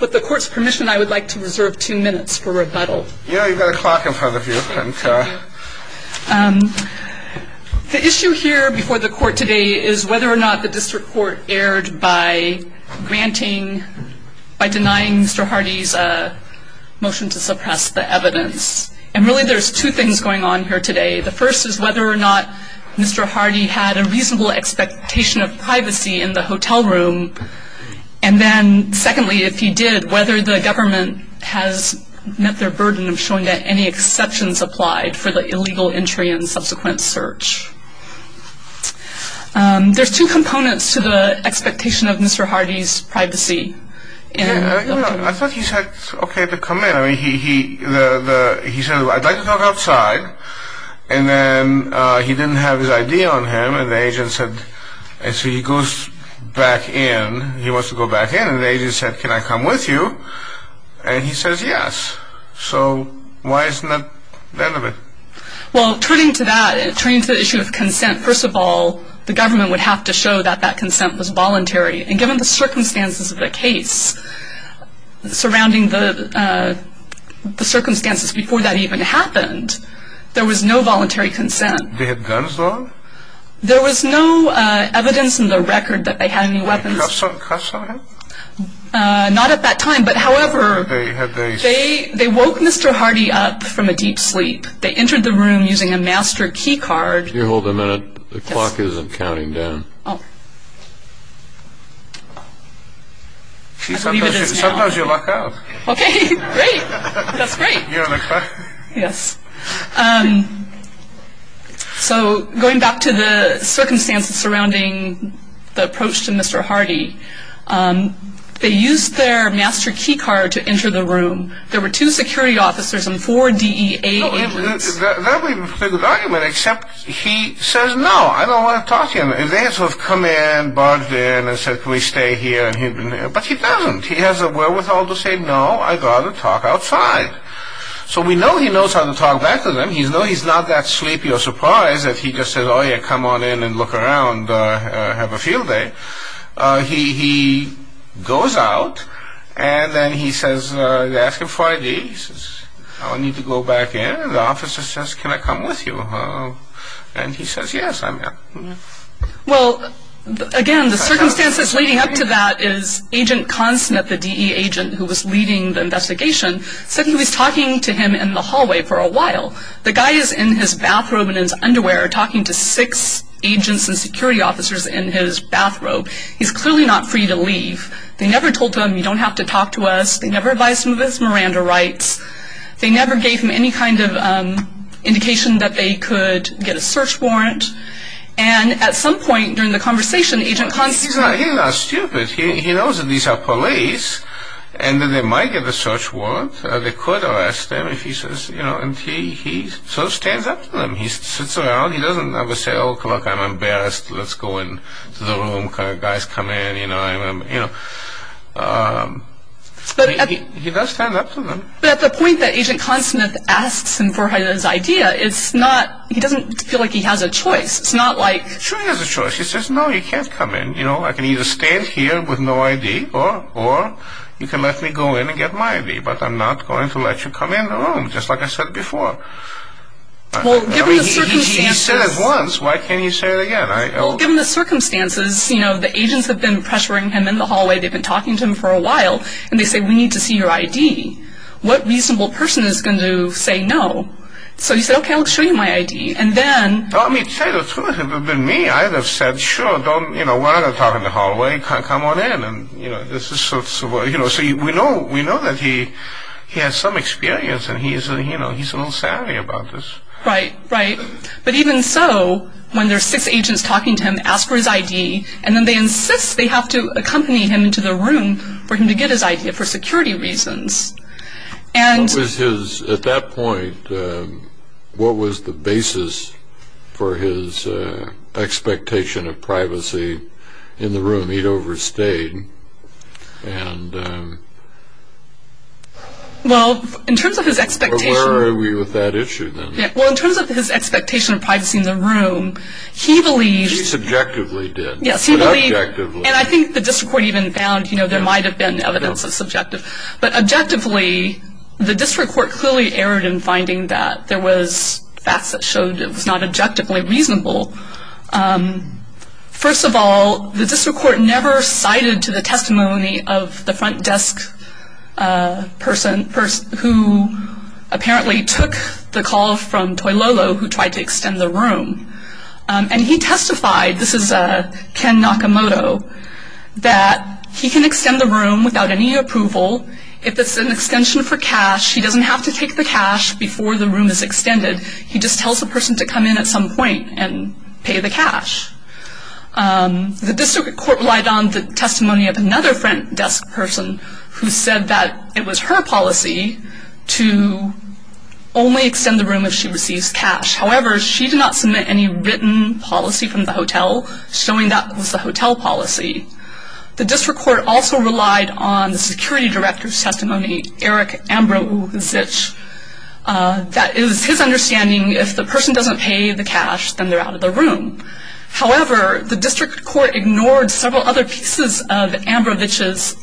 with the court's permission, I would like to reserve two minutes for rebuttal. Yeah, you've got a clock in front of you. The issue here before the court today is whether or not the district court erred by granting, by denying Mr. Hardy's motion to suppress the evidence. And really there's two things going on here today. The first is whether or not Mr. Hardy had a reasonable expectation of privacy in the hotel room. And then secondly, if he did, whether the government has met their burden of showing that any exceptions applied for the illegal entry and subsequent search. There's two components to the expectation of Mr. Hardy's privacy. I thought he said okay to come in. I mean, he said, I'd like to talk outside. And then he didn't have his ID on him and the agent said, and so he goes back in. He wants to go back in and the agent said, can I come with you? And he says yes. So why isn't that the end of it? Well, turning to that, turning to the issue of consent, first of all, the government would have to show that that consent was voluntary. And given the circumstances of the case surrounding the circumstances before that even happened, there was no voluntary consent. They had done so? There was no evidence in the record that they had any weapons. Cuffs on him? Not at that time, but however, they woke Mr. Hardy up from a deep sleep. They entered the room using a master key card. Can you hold a minute? The clock isn't counting down. Sometimes you luck out. Okay, great. That's great. So going back to the circumstances surrounding the approach to Mr. Hardy, they used their master key card to enter the room. There were two security officers and four DEA agents. That would be a pretty good argument, except he says, no, I don't want to talk to you. And they sort of come in, barge in, and say, can we stay here? But he doesn't. He has the wherewithal to say, no, I've got to talk outside. So we know he knows how to talk back to them. We know he's not that sleepy or surprised if he just says, oh, yeah, come on in and look around, have a field day. He goes out, and then he says, they ask him for ID. He says, I need to go back in. The officer says, can I come with you? And he says, yes, I'm here. Well, again, the circumstances leading up to that is Agent Consnett, the DEA agent who was leading the investigation, said he was talking to him in the hallway for a while. The guy is in his bathrobe and his underwear talking to six agents and security officers in his bathrobe. He's clearly not free to leave. They never told him, you don't have to talk to us. They never advised him of his Miranda rights. They never gave him any kind of indication that they could get a search warrant. And at some point during the conversation, Agent Consnett... He's not stupid. He knows that these are police and that they might get a search warrant. They could arrest him if he says, you know, and he sort of stands up to them. He sits around. He doesn't ever say, oh, look, I'm embarrassed. Let's go into the room. You know, he does stand up to them. But at the point that Agent Consnett asks him for his idea, it's not... He doesn't feel like he has a choice. It's not like... Sure he has a choice. He says, no, you can't come in. You know, I can either stay here with no ID or you can let me go in and get my ID, but I'm not going to let you come in the room, just like I said before. Well, given the circumstances... He said it once. Why can't he say it again? Well, given the circumstances, you know, the agents have been pressuring him in the hallway. They've been talking to him for a while, and they say, we need to see your ID. What reasonable person is going to say no? So he said, okay, I'll show you my ID. And then... Well, I mean, to tell you the truth, if it had been me, I would have said, sure, don't... You know, we're not going to talk in the hallway. Come on in. And, you know, this is sort of... You know, so we know that he has some experience and he's, you know, he's a little savvy about this. Right, right. But even so, when there are six agents talking to him, ask for his ID, and then they insist they have to accompany him into the room for him to get his ID for security reasons. And... What was his... At that point, what was the basis for his expectation of privacy in the room? He'd overstayed. And... Well, in terms of his expectation... Where were we with that issue then? Well, in terms of his expectation of privacy in the room, he believed... He subjectively did. Yes, he believed... But objectively... And I think the district court even found, you know, there might have been evidence of subjective. But objectively, the district court clearly erred in finding that there was facts that showed it was not objectively reasonable. First of all, the district court never cited to the testimony of the front desk person who apparently took the call from Toilolo, who tried to extend the room. And he testified, this is Ken Nakamoto, that he can extend the room without any approval. If it's an extension for cash, he doesn't have to take the cash before the room is extended. He just tells the person to come in at some point and pay the cash. The district court relied on the testimony of another front desk person who said that it was her policy to only extend the room if she receives cash. However, she did not submit any written policy from the hotel, showing that was the hotel policy. The district court also relied on the security director's testimony, Eric Ambrozich, that it was his understanding if the person doesn't pay the cash, then they're out of the room. However, the district court ignored several other pieces of Ambrozich's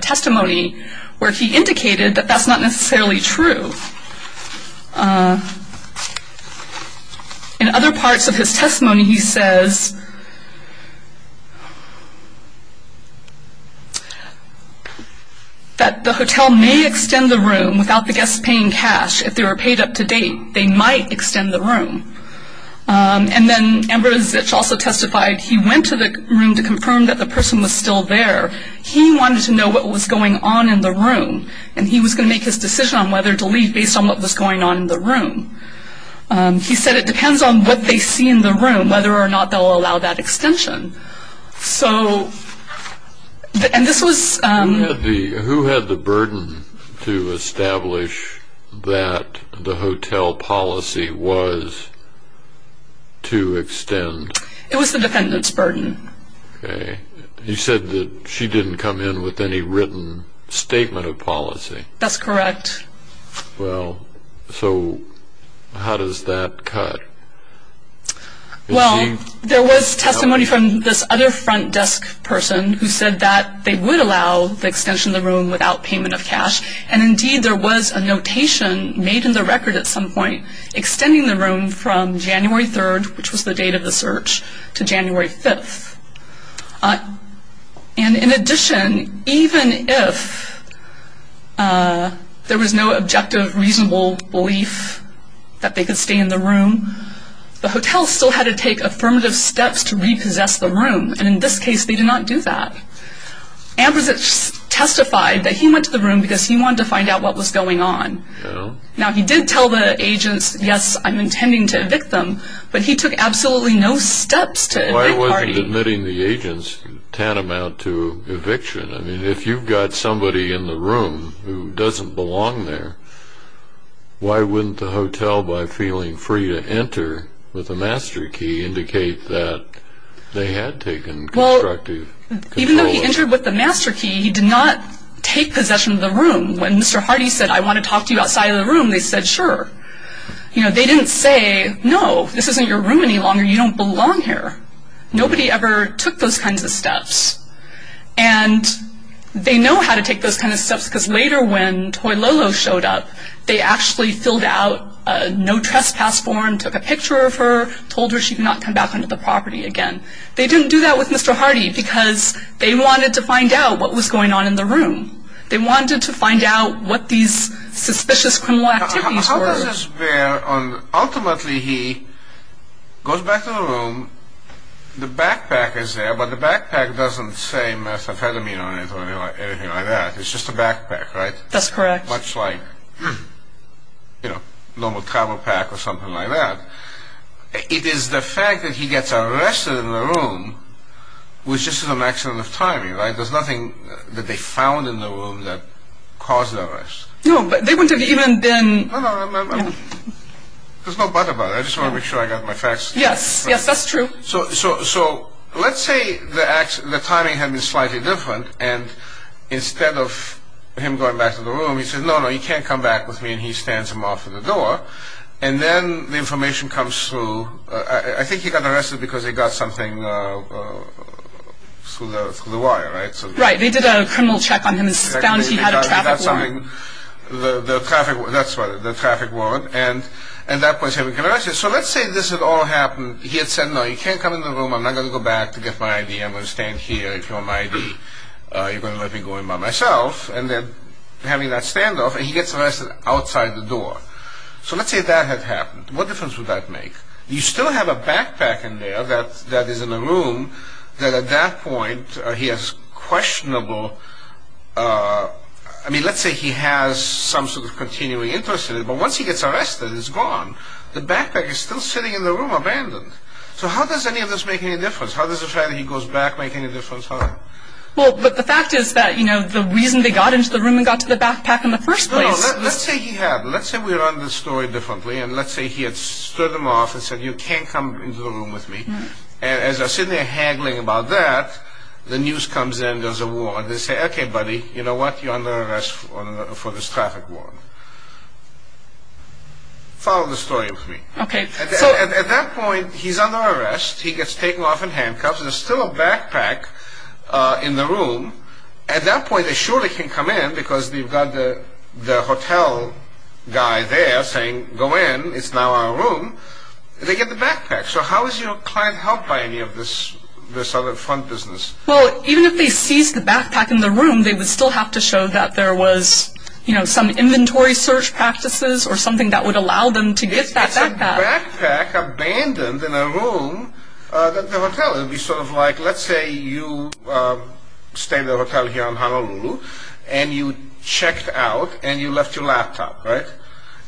testimony where he indicated that that's not necessarily true. In other parts of his testimony, he says that the hotel may extend the room without the guests paying cash. If they were paid up to date, they might extend the room. And then Ambrozich also testified he went to the room to confirm that the person was still there. He wanted to know what was going on in the room, and he was going to make his decision on whether to leave based on what was going on in the room. He said it depends on what they see in the room, whether or not they'll allow him to leave. They'll allow that extension. So, and this was... Who had the burden to establish that the hotel policy was to extend? It was the defendant's burden. Okay. He said that she didn't come in with any written statement of policy. That's correct. Well, so how does that cut? Well, there was testimony from this other front desk person who said that they would allow the extension of the room without payment of cash. And indeed, there was a notation made in the record at some point extending the room from January 3rd, which was the date of the search, to January 5th. And in addition, even if there was no objective, reasonable belief that they could stay in the room, the hotel still had to take affirmative steps to repossess the room. And in this case, they did not do that. Ambrosich testified that he went to the room because he wanted to find out what was going on. Now, he did tell the agents, yes, I'm intending to evict them, but he took absolutely no steps to evict Hardy. Why wasn't admitting the agents tantamount to eviction? I mean, if you've got somebody in the room who doesn't belong there, why wouldn't the hotel, by feeling free to enter with a master key, indicate that they had taken constructive control of it? Well, even though he entered with the master key, he did not take possession of the room. When Mr. Hardy said, I want to talk to you outside of the room, they said, sure. You know, they didn't say, no, this isn't your room any longer, you don't belong here. Nobody ever took those kinds of steps. And they know how to take those kinds of steps because later when Toy Lolo showed up, they actually filled out a no trespass form, took a picture of her, told her she could not come back onto the property again. They didn't do that with Mr. Hardy because they wanted to find out what was going on in the room. They wanted to find out what these suspicious criminal activities were. Ultimately, he goes back to the room, the backpack is there, but the backpack doesn't say methamphetamine on it or anything like that. It's just a backpack, right? That's correct. Much like, you know, a normal travel pack or something like that. It is the fact that he gets arrested in the room which is just a matter of timing, right? There's nothing that they found in the room that caused the arrest. No, but they wouldn't have even been... No, no, there's no but about it. I just want to make sure I got my facts. Yes, yes, that's true. So let's say the timing had been slightly different and instead of him going back to the room, he says, no, no, you can't come back with me, and he stands him off at the door. And then the information comes through. I think he got arrested because he got something through the wire, right? Right. They did a criminal check on him and found he had a traffic warrant. That's right, the traffic warrant. And at that point he's having an arrest. So let's say this had all happened. He had said, no, you can't come into the room. I'm not going to go back to get my ID. I'm going to stand here. If you want my ID, you're going to let me go in by myself. And then having that standoff, he gets arrested outside the door. So let's say that had happened. What difference would that make? You still have a backpack in there that is in the room that at that point he has questionable, I mean, let's say he has some sort of continuing interest in it. But once he gets arrested, it's gone. The backpack is still sitting in the room abandoned. So how does any of this make any difference? How does the fact that he goes back make any difference? Well, but the fact is that, you know, the reason they got into the room and got to the backpack in the first place. No, no, let's say he had. Let's say we run the story differently. And let's say he had stood him off and said, you can't come into the room with me. And as they're sitting there haggling about that, the news comes in, there's a warrant. They say, okay, buddy, you know what? You're under arrest for this traffic warrant. Follow the story with me. Okay. So at that point, he's under arrest. He gets taken off in handcuffs. There's still a backpack in the room. At that point, they surely can come in because they've got the hotel guy there saying, go in. It's now our room. They get the backpack. So how is your client helped by any of this other front business? Well, even if they seized the backpack in the room, they would still have to show that there was, you know, some inventory search practices or something that would allow them to get that backpack. It's a backpack abandoned in a room at the hotel. It would be sort of like, let's say you stayed at a hotel here in Honolulu and you checked out and you left your laptop, right?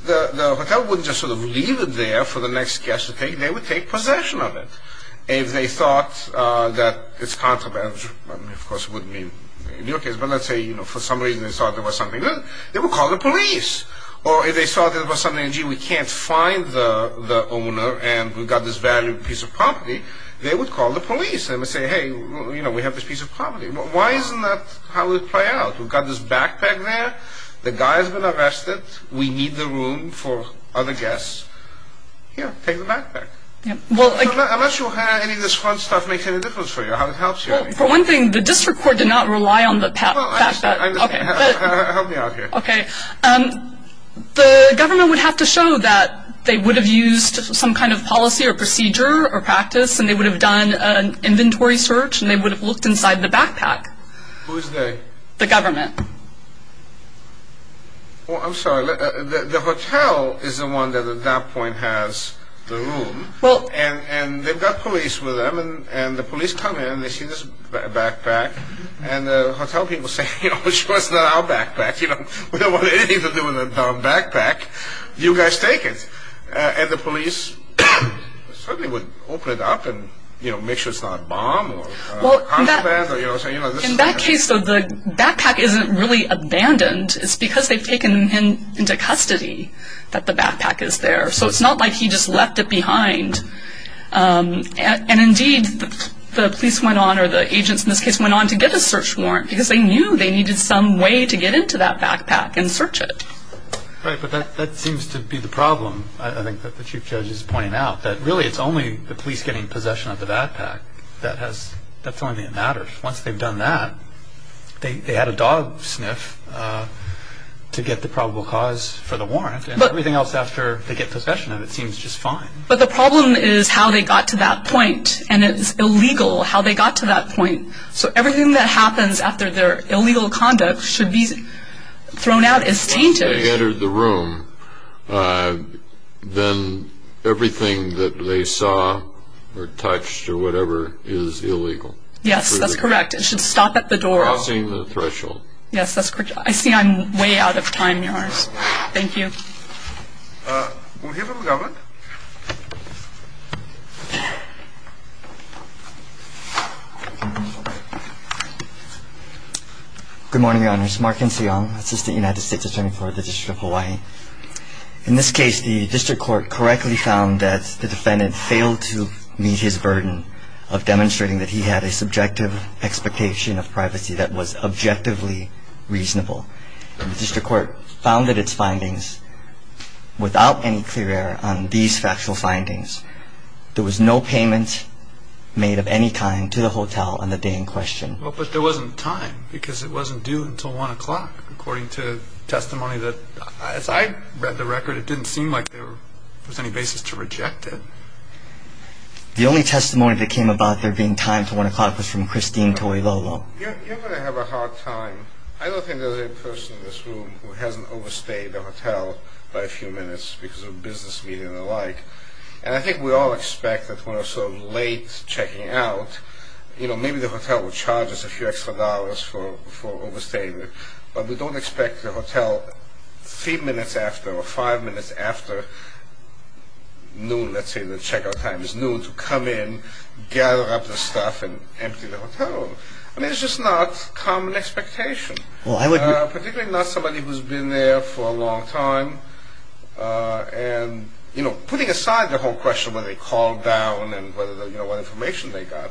The hotel wouldn't just sort of leave it there for the next guest to take. They would take possession of it. If they thought that it's contraband, which of course wouldn't be in your case, but let's say, you know, for some reason they thought there was something there, they would call the police. Or if they thought there was something, gee, we can't find the owner and we've got this valued piece of property, they would call the police and say, hey, you know, we have this piece of property. Why isn't that how it would play out? We've got this backpack there. The guy has been arrested. We need the room for other guests. Here, take the backpack. Unless you have any of this front stuff makes any difference for you, how it helps you. For one thing, the district court did not rely on the fact that, okay. Help me out here. Okay. The government would have to show that they would have used some kind of policy or procedure or practice and they would have done an inventory search and they would have looked inside the backpack. Who is they? The government. Well, I'm sorry. The hotel is the one that at that point has the room. Well. And they've got police with them and the police come in and they see this backpack and the hotel people say, you know, of course it's not our backpack. We don't want anything to do with our backpack. You guys take it. And the police certainly would open it up and, you know, make sure it's not a bomb. In that case, the backpack isn't really abandoned. It's because they've taken him into custody that the backpack is there. So it's not like he just left it behind. And, indeed, the police went on or the agents in this case went on to get a search warrant because they knew they needed some way to get into that backpack and search it. Right, but that seems to be the problem, I think, that the Chief Judge is pointing out, that really it's only the police getting possession of the backpack. That's the only thing that matters. Once they've done that, they had a dog sniff to get the probable cause for the warrant and everything else after they get possession of it seems just fine. But the problem is how they got to that point, and it's illegal how they got to that point. So everything that happens after their illegal conduct should be thrown out as tainted. Once they entered the room, then everything that they saw or touched or whatever is illegal. Yes, that's correct. It should stop at the door. Crossing the threshold. Yes, that's correct. I see I'm way out of time, yours. Thank you. We'll hear from the government. Good morning, Your Honors. Mark N. Seong, Assistant United States Attorney for the District of Hawaii. In this case, the district court correctly found that the defendant failed to meet his burden of demonstrating that he had a subjective expectation of privacy that was objectively reasonable. The district court founded its findings without any clear error on these factual findings. There was no payment made of any kind to the hotel on the day in question. Well, but there wasn't time because it wasn't due until 1 o'clock according to testimony that, as I read the record, it didn't seem like there was any basis to reject it. The only testimony that came about there being time to 1 o'clock was from Christine Toilolo. You're going to have a hard time. I don't think there's any person in this room who hasn't overstayed a hotel by a few minutes because of business meeting and the like. And I think we all expect that when we're sort of late checking out, you know, maybe the hotel will charge us a few extra dollars for overstaying it, but we don't expect the hotel three minutes after or five minutes after noon, let's say the checkout time is noon, to come in, gather up the stuff, and empty the hotel room. I mean, it's just not common expectation, particularly not somebody who's been there for a long time. And, you know, putting aside the whole question whether they called down and what information they got,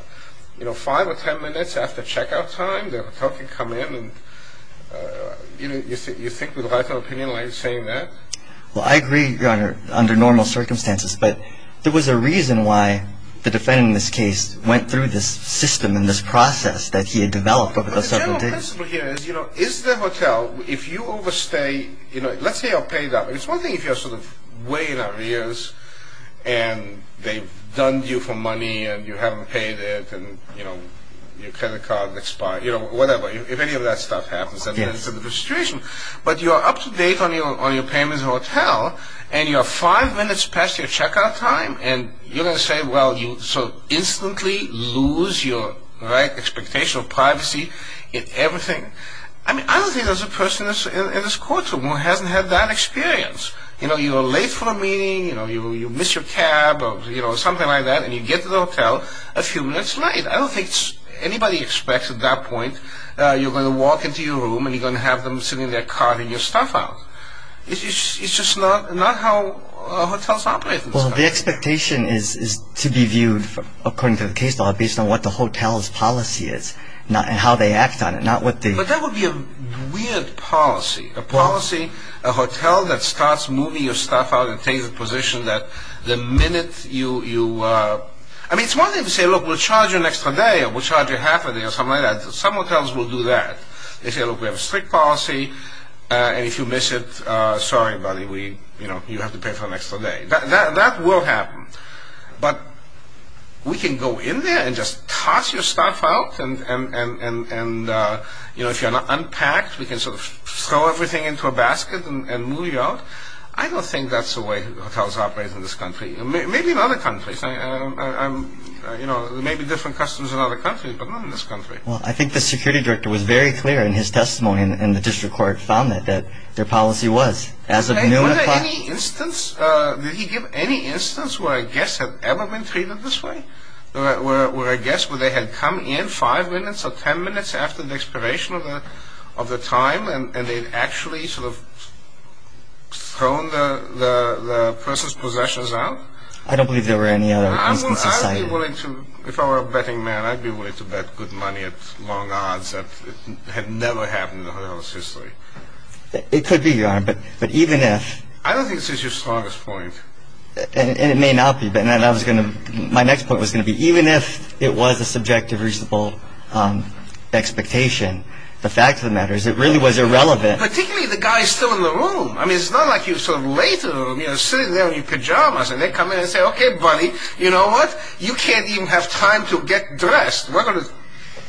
you know, five or ten minutes after checkout time, the hotel can come in, and you think we'd write our opinion like saying that? Well, I agree, Your Honor, under normal circumstances, but there was a reason why the defendant in this case went through this system and this process that he had developed over those several days. But the general principle here is, you know, is the hotel, if you overstay, you know, let's say you're paid up. It's one thing if you're sort of way in our ears and they've done you for money and you haven't paid it and, you know, your credit card expired, you know, whatever. If any of that stuff happens, then it's a different situation. But you're up to date on your payments at the hotel, and you're five minutes past your checkout time, and you're going to say, well, you sort of instantly lose your, right, expectation of privacy and everything. I mean, I don't think there's a person in this courtroom who hasn't had that experience. You know, you're late for a meeting, you know, you miss your cab or, you know, something like that, and you get to the hotel a few minutes late. I don't think anybody expects at that point you're going to walk into your room and you're going to have them sending their card and your stuff out. It's just not how hotels operate. Well, the expectation is to be viewed, according to the case law, based on what the hotel's policy is and how they act on it, not what the... But that would be a weird policy, a policy, a hotel that starts moving your stuff out and takes a position that the minute you... I mean, it's one thing to say, look, we'll charge you an extra day or we'll charge you half a day or something like that. Some hotels will do that. They say, look, we have a strict policy, and if you miss it, sorry, buddy, we... you know, you have to pay for an extra day. That will happen. But we can go in there and just toss your stuff out and, you know, if you're not unpacked, we can sort of throw everything into a basket and move you out. I don't think that's the way hotels operate in this country. Maybe in other countries. You know, there may be different customs in other countries, but not in this country. Well, I think the security director was very clear in his testimony, and the district court found that their policy was, as of noon at 5... Was there any instance, did he give any instance where a guest had ever been treated this way? Where a guest, where they had come in five minutes or ten minutes after the expiration of the time and they'd actually sort of thrown the person's possessions out? I don't believe there were any other instances cited. I'd be willing to, if I were a betting man, I'd be willing to bet good money at long odds that it had never happened in the hotel's history. It could be, Your Honor, but even if... I don't think this is your strongest point. And it may not be, but my next point was going to be, even if it was a subjective, reasonable expectation, the fact of the matter is it really was irrelevant. Particularly the guy still in the room. I mean, it's not like you sort of lay to him, you know, sitting there in your pajamas, and they come in and say, OK, buddy, you know what? You can't even have time to get dressed. We're going to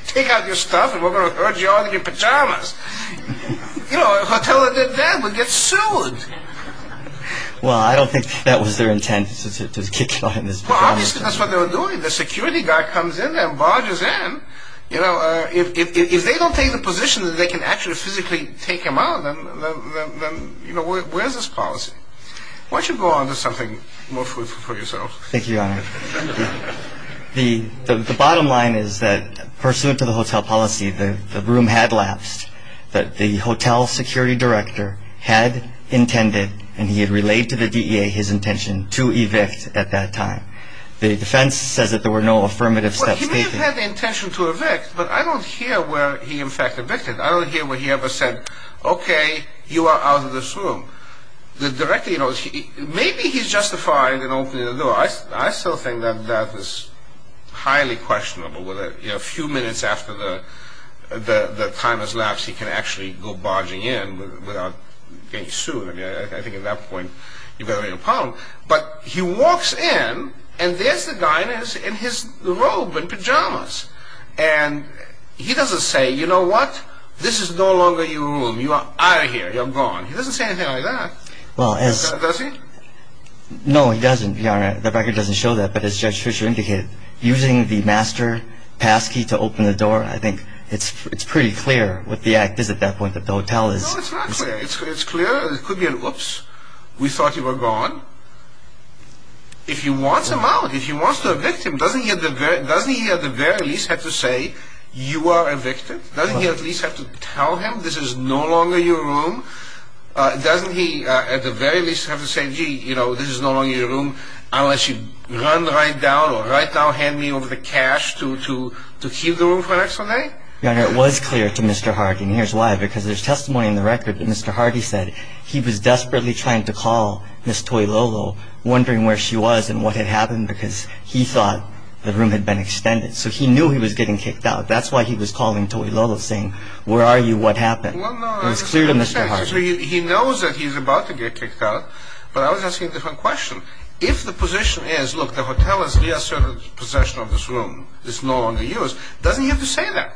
take out your stuff and we're going to urge you out of your pajamas. You know, a hotel that did that would get sued. Well, I don't think that was their intent, to kick you out of your pajamas. Well, obviously that's what they were doing. The security guy comes in there and barges in. You know, if they don't take the position that they can actually physically take him out, then, you know, where's his policy? Why don't you go on to something more fruitful for yourselves. Thank you, Your Honor. The bottom line is that, pursuant to the hotel policy, the room had lapsed. The hotel security director had intended, and he had relayed to the DEA his intention, to evict at that time. The defense says that there were no affirmative steps taken. Well, he may have had the intention to evict, but I don't hear where he in fact evicted. I don't hear where he ever said, OK, you are out of this room. The director, you know, maybe he's justified in opening the door. I still think that that is highly questionable. A few minutes after the time has lapsed, he can actually go barging in without getting sued. I think at that point you've got a real problem. But he walks in, and there's the guy in his robe and pajamas. And he doesn't say, you know what? This is no longer your room. You are out of here. You're gone. He doesn't say anything like that, does he? No, he doesn't. The record doesn't show that. But as Judge Fisher indicated, using the master passkey to open the door, I think it's pretty clear what the act is at that point that the hotel is- No, it's not clear. It's clear. It could be an oops. We thought you were gone. If he wants him out, if he wants to evict him, doesn't he at the very least have to say, you are evicted? Doesn't he at least have to tell him this is no longer your room? Doesn't he at the very least have to say, gee, you know, this is no longer your room, unless you run right down or right now hand me over the cash to keep the room for the next Sunday? Your Honor, it was clear to Mr. Hardy, and here's why. Because there's testimony in the record that Mr. Hardy said he was desperately trying to call Miss Toy Lolo, wondering where she was and what had happened, because he thought the room had been extended. So he knew he was getting kicked out. That's why he was calling Toy Lolo, saying, where are you, what happened? It was clear to Mr. Hardy. He knows that he's about to get kicked out, but I was asking a different question. If the position is, look, the hotel has reasserted possession of this room, it's no longer yours, doesn't he have to say that?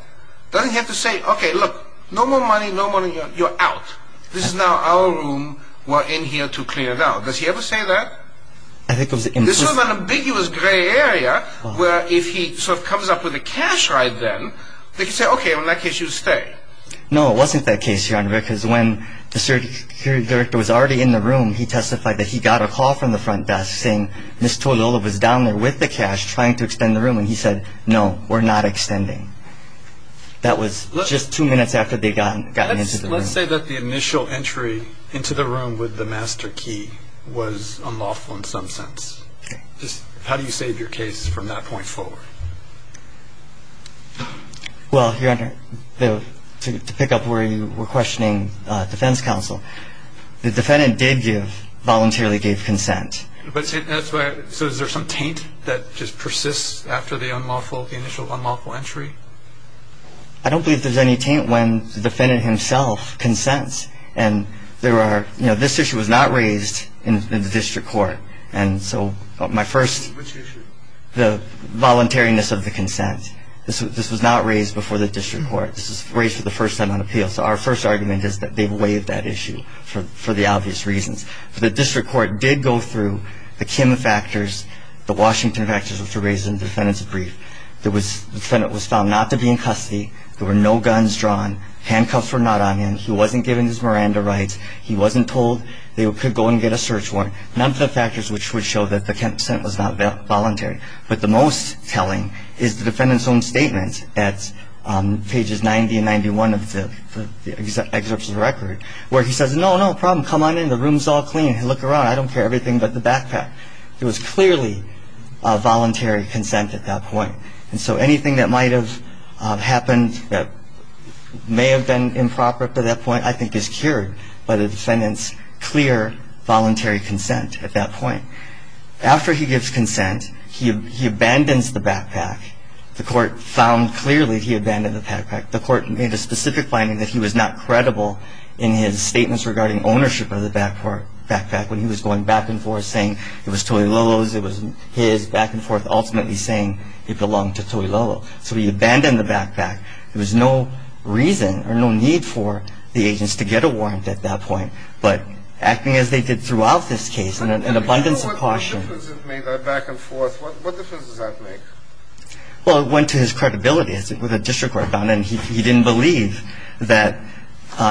Doesn't he have to say, okay, look, no more money, no money, you're out. This is now our room. We're in here to clear it out. Does he ever say that? This was an ambiguous gray area where if he sort of comes up with the cash right then, they can say, okay, in that case you'll stay. No, it wasn't that case, Your Honor, because when the security director was already in the room, he testified that he got a call from the front desk saying Miss Toy Lolo was down there with the cash trying to extend the room, and he said, no, we're not extending. That was just two minutes after they'd gotten into the room. Let's say that the initial entry into the room with the master key was unlawful in some sense. How do you save your case from that point forward? Well, Your Honor, to pick up where you were questioning defense counsel, the defendant did voluntarily give consent. So is there some taint that just persists after the initial unlawful entry? I don't believe there's any taint when the defendant himself consents. And there are ñ you know, this issue was not raised in the district court. And so my first ñ Which issue? The voluntariness of the consent. This was not raised before the district court. This was raised for the first time on appeal. So our first argument is that they've waived that issue for the obvious reasons. The district court did go through the Kim factors, the Washington factors, which were raised in the defendant's brief. The defendant was found not to be in custody. There were no guns drawn. Handcuffs were not on him. He wasn't given his Miranda rights. He wasn't told they could go and get a search warrant. None of the factors which would show that the consent was not voluntary. But the most telling is the defendant's own statement at pages 90 and 91 of the excerpts of the record, where he says, no, no, problem, come on in, the room's all clean, look around, I don't care everything but the backpack. It was clearly voluntary consent at that point. And so anything that might have happened that may have been improper up to that point, I think is cured by the defendant's clear voluntary consent at that point. After he gives consent, he abandons the backpack. The court found clearly he abandoned the backpack. The court made a specific finding that he was not credible in his statements regarding ownership of the backpack when he was going back and forth saying it was Toi Lolo's, it was his, back and forth ultimately saying it belonged to Toi Lolo. So he abandoned the backpack. There was no reason or no need for the agents to get a warrant at that point, but acting as they did throughout this case in an abundance of caution. What difference does it make, that back and forth, what difference does that make? Well, it went to his credibility, as the district court found, and he didn't believe that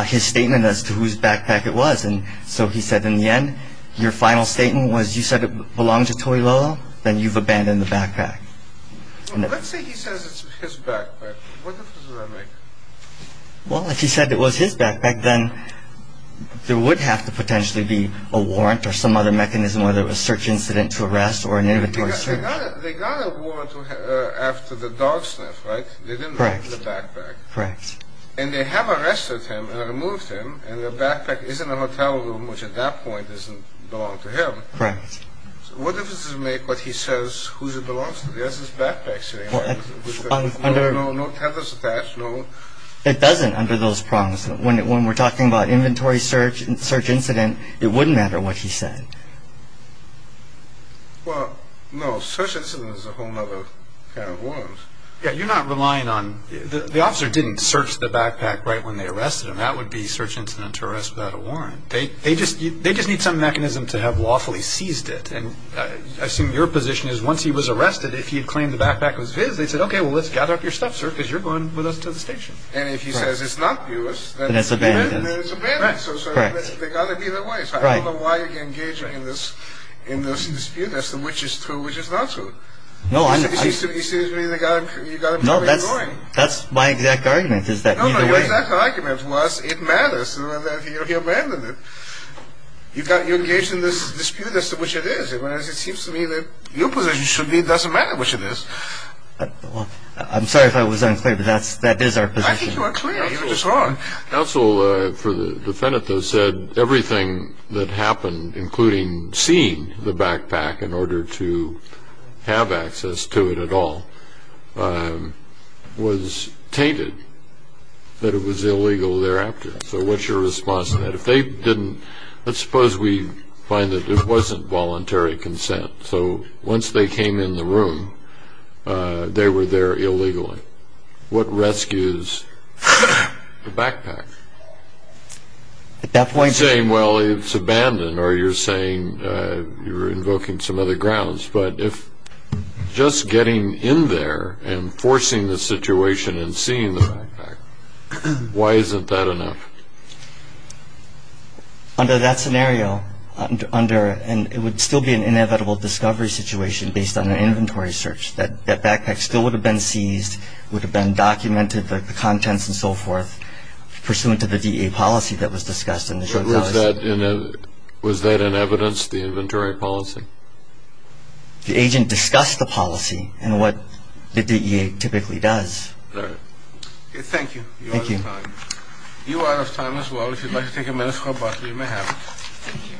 his statement as to whose backpack it was. And so he said in the end, your final statement was you said it belonged to Toi Lolo, then you've abandoned the backpack. Let's say he says it's his backpack. What difference does that make? Well, if he said it was his backpack, then there would have to potentially be a warrant or some other mechanism, whether it was search incident to arrest or an inventory search. They got a warrant after the dog sniff, right? Correct. They didn't remove the backpack. Correct. And they have arrested him and removed him, and the backpack is in the hotel room, which at that point doesn't belong to him. Correct. So what difference does it make what he says whose it belongs to? There's his backpack sitting there with no tethers attached. It doesn't under those prongs. When we're talking about inventory search, search incident, it wouldn't matter what he said. Well, no, search incident is a whole other kind of warrant. You're not relying on the officer didn't search the backpack right when they arrested him. That would be search incident to arrest without a warrant. They just need some mechanism to have lawfully seized it. I assume your position is once he was arrested, if he had claimed the backpack was his, they said, okay, well, let's gather up your stuff, sir, because you're going with us to the station. And if he says it's not yours, then it's abandoned. Correct. So they've got to be their ways. I don't know why you're engaging in this dispute as to which is true and which is not true. No, I'm not. You see what I mean? You've got to be ignoring. No, that's my exact argument is that neither way. No, no, your exact argument was it matters that he abandoned it. You're engaging in this dispute as to which it is. It seems to me that your position should be it doesn't matter which it is. I'm sorry if I was unclear, but that is our position. I think you were clear. You were just wrong. Counsel for the defendant, though, said everything that happened, including seeing the backpack in order to have access to it at all, was tainted that it was illegal thereafter. So what's your response to that? Let's suppose we find that it wasn't voluntary consent. So once they came in the room, they were there illegally. What rescues the backpack? You're saying, well, it's abandoned, or you're saying you're invoking some other grounds. But if just getting in there and forcing the situation and seeing the backpack, why isn't that enough? Under that scenario, and it would still be an inevitable discovery situation based on an inventory search, that backpack still would have been seized, would have been documented, the contents and so forth, pursuant to the DEA policy that was discussed in the short notice. Was that in evidence, the inventory policy? The agent discussed the policy and what the DEA typically does. All right. Thank you. You are out of time. You are out of time as well. If you'd like to take a minute or two, you may have it. Thank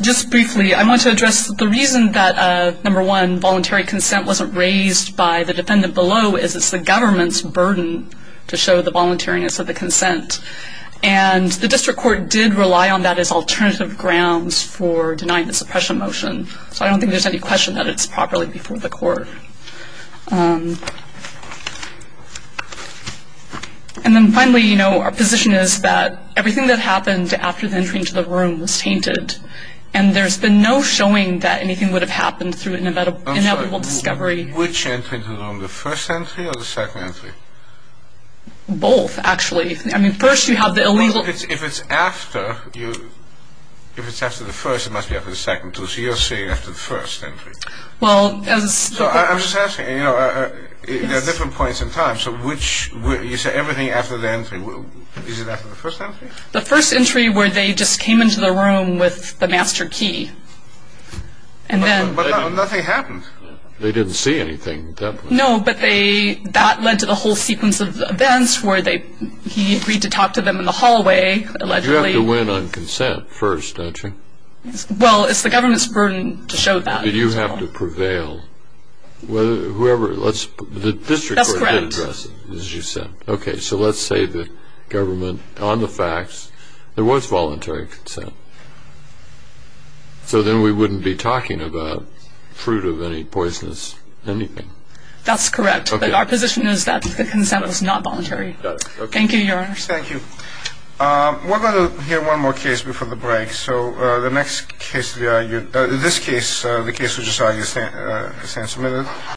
you. Just briefly, I want to address the reason that, number one, voluntary consent wasn't raised by the defendant below is it's the government's burden to show the voluntariness of the consent. And the district court did rely on that as alternative grounds for denying the suppression motion. So I don't think there's any question that it's properly before the court. Thank you. And then finally, you know, our position is that everything that happened after the entry into the room was tainted. And there's been no showing that anything would have happened through an inevitable discovery. I'm sorry. Which entry into the room, the first entry or the second entry? Both, actually. I mean, first you have the illegal. Well, if it's after the first, it must be after the second. So you're saying after the first entry. Well, as the court. I'm just asking, you know, there are different points in time. So which, you say everything after the entry. Is it after the first entry? The first entry where they just came into the room with the master key. And then. But nothing happened. They didn't see anything at that point. No, but they, that led to the whole sequence of events where they, he agreed to talk to them in the hallway, allegedly. But you have to win on consent first, don't you? Well, it's the government's burden to show that. But you have to prevail. Whoever, let's, the district. That's correct. As you said. Okay, so let's say the government, on the facts, there was voluntary consent. So then we wouldn't be talking about fruit of any poisonous anything. That's correct. But our position is that the consent was not voluntary. Thank you, Your Honor. Thank you. We're going to hear one more case before the break. Okay, so the next case, this case, the case we just saw, you stand submitted.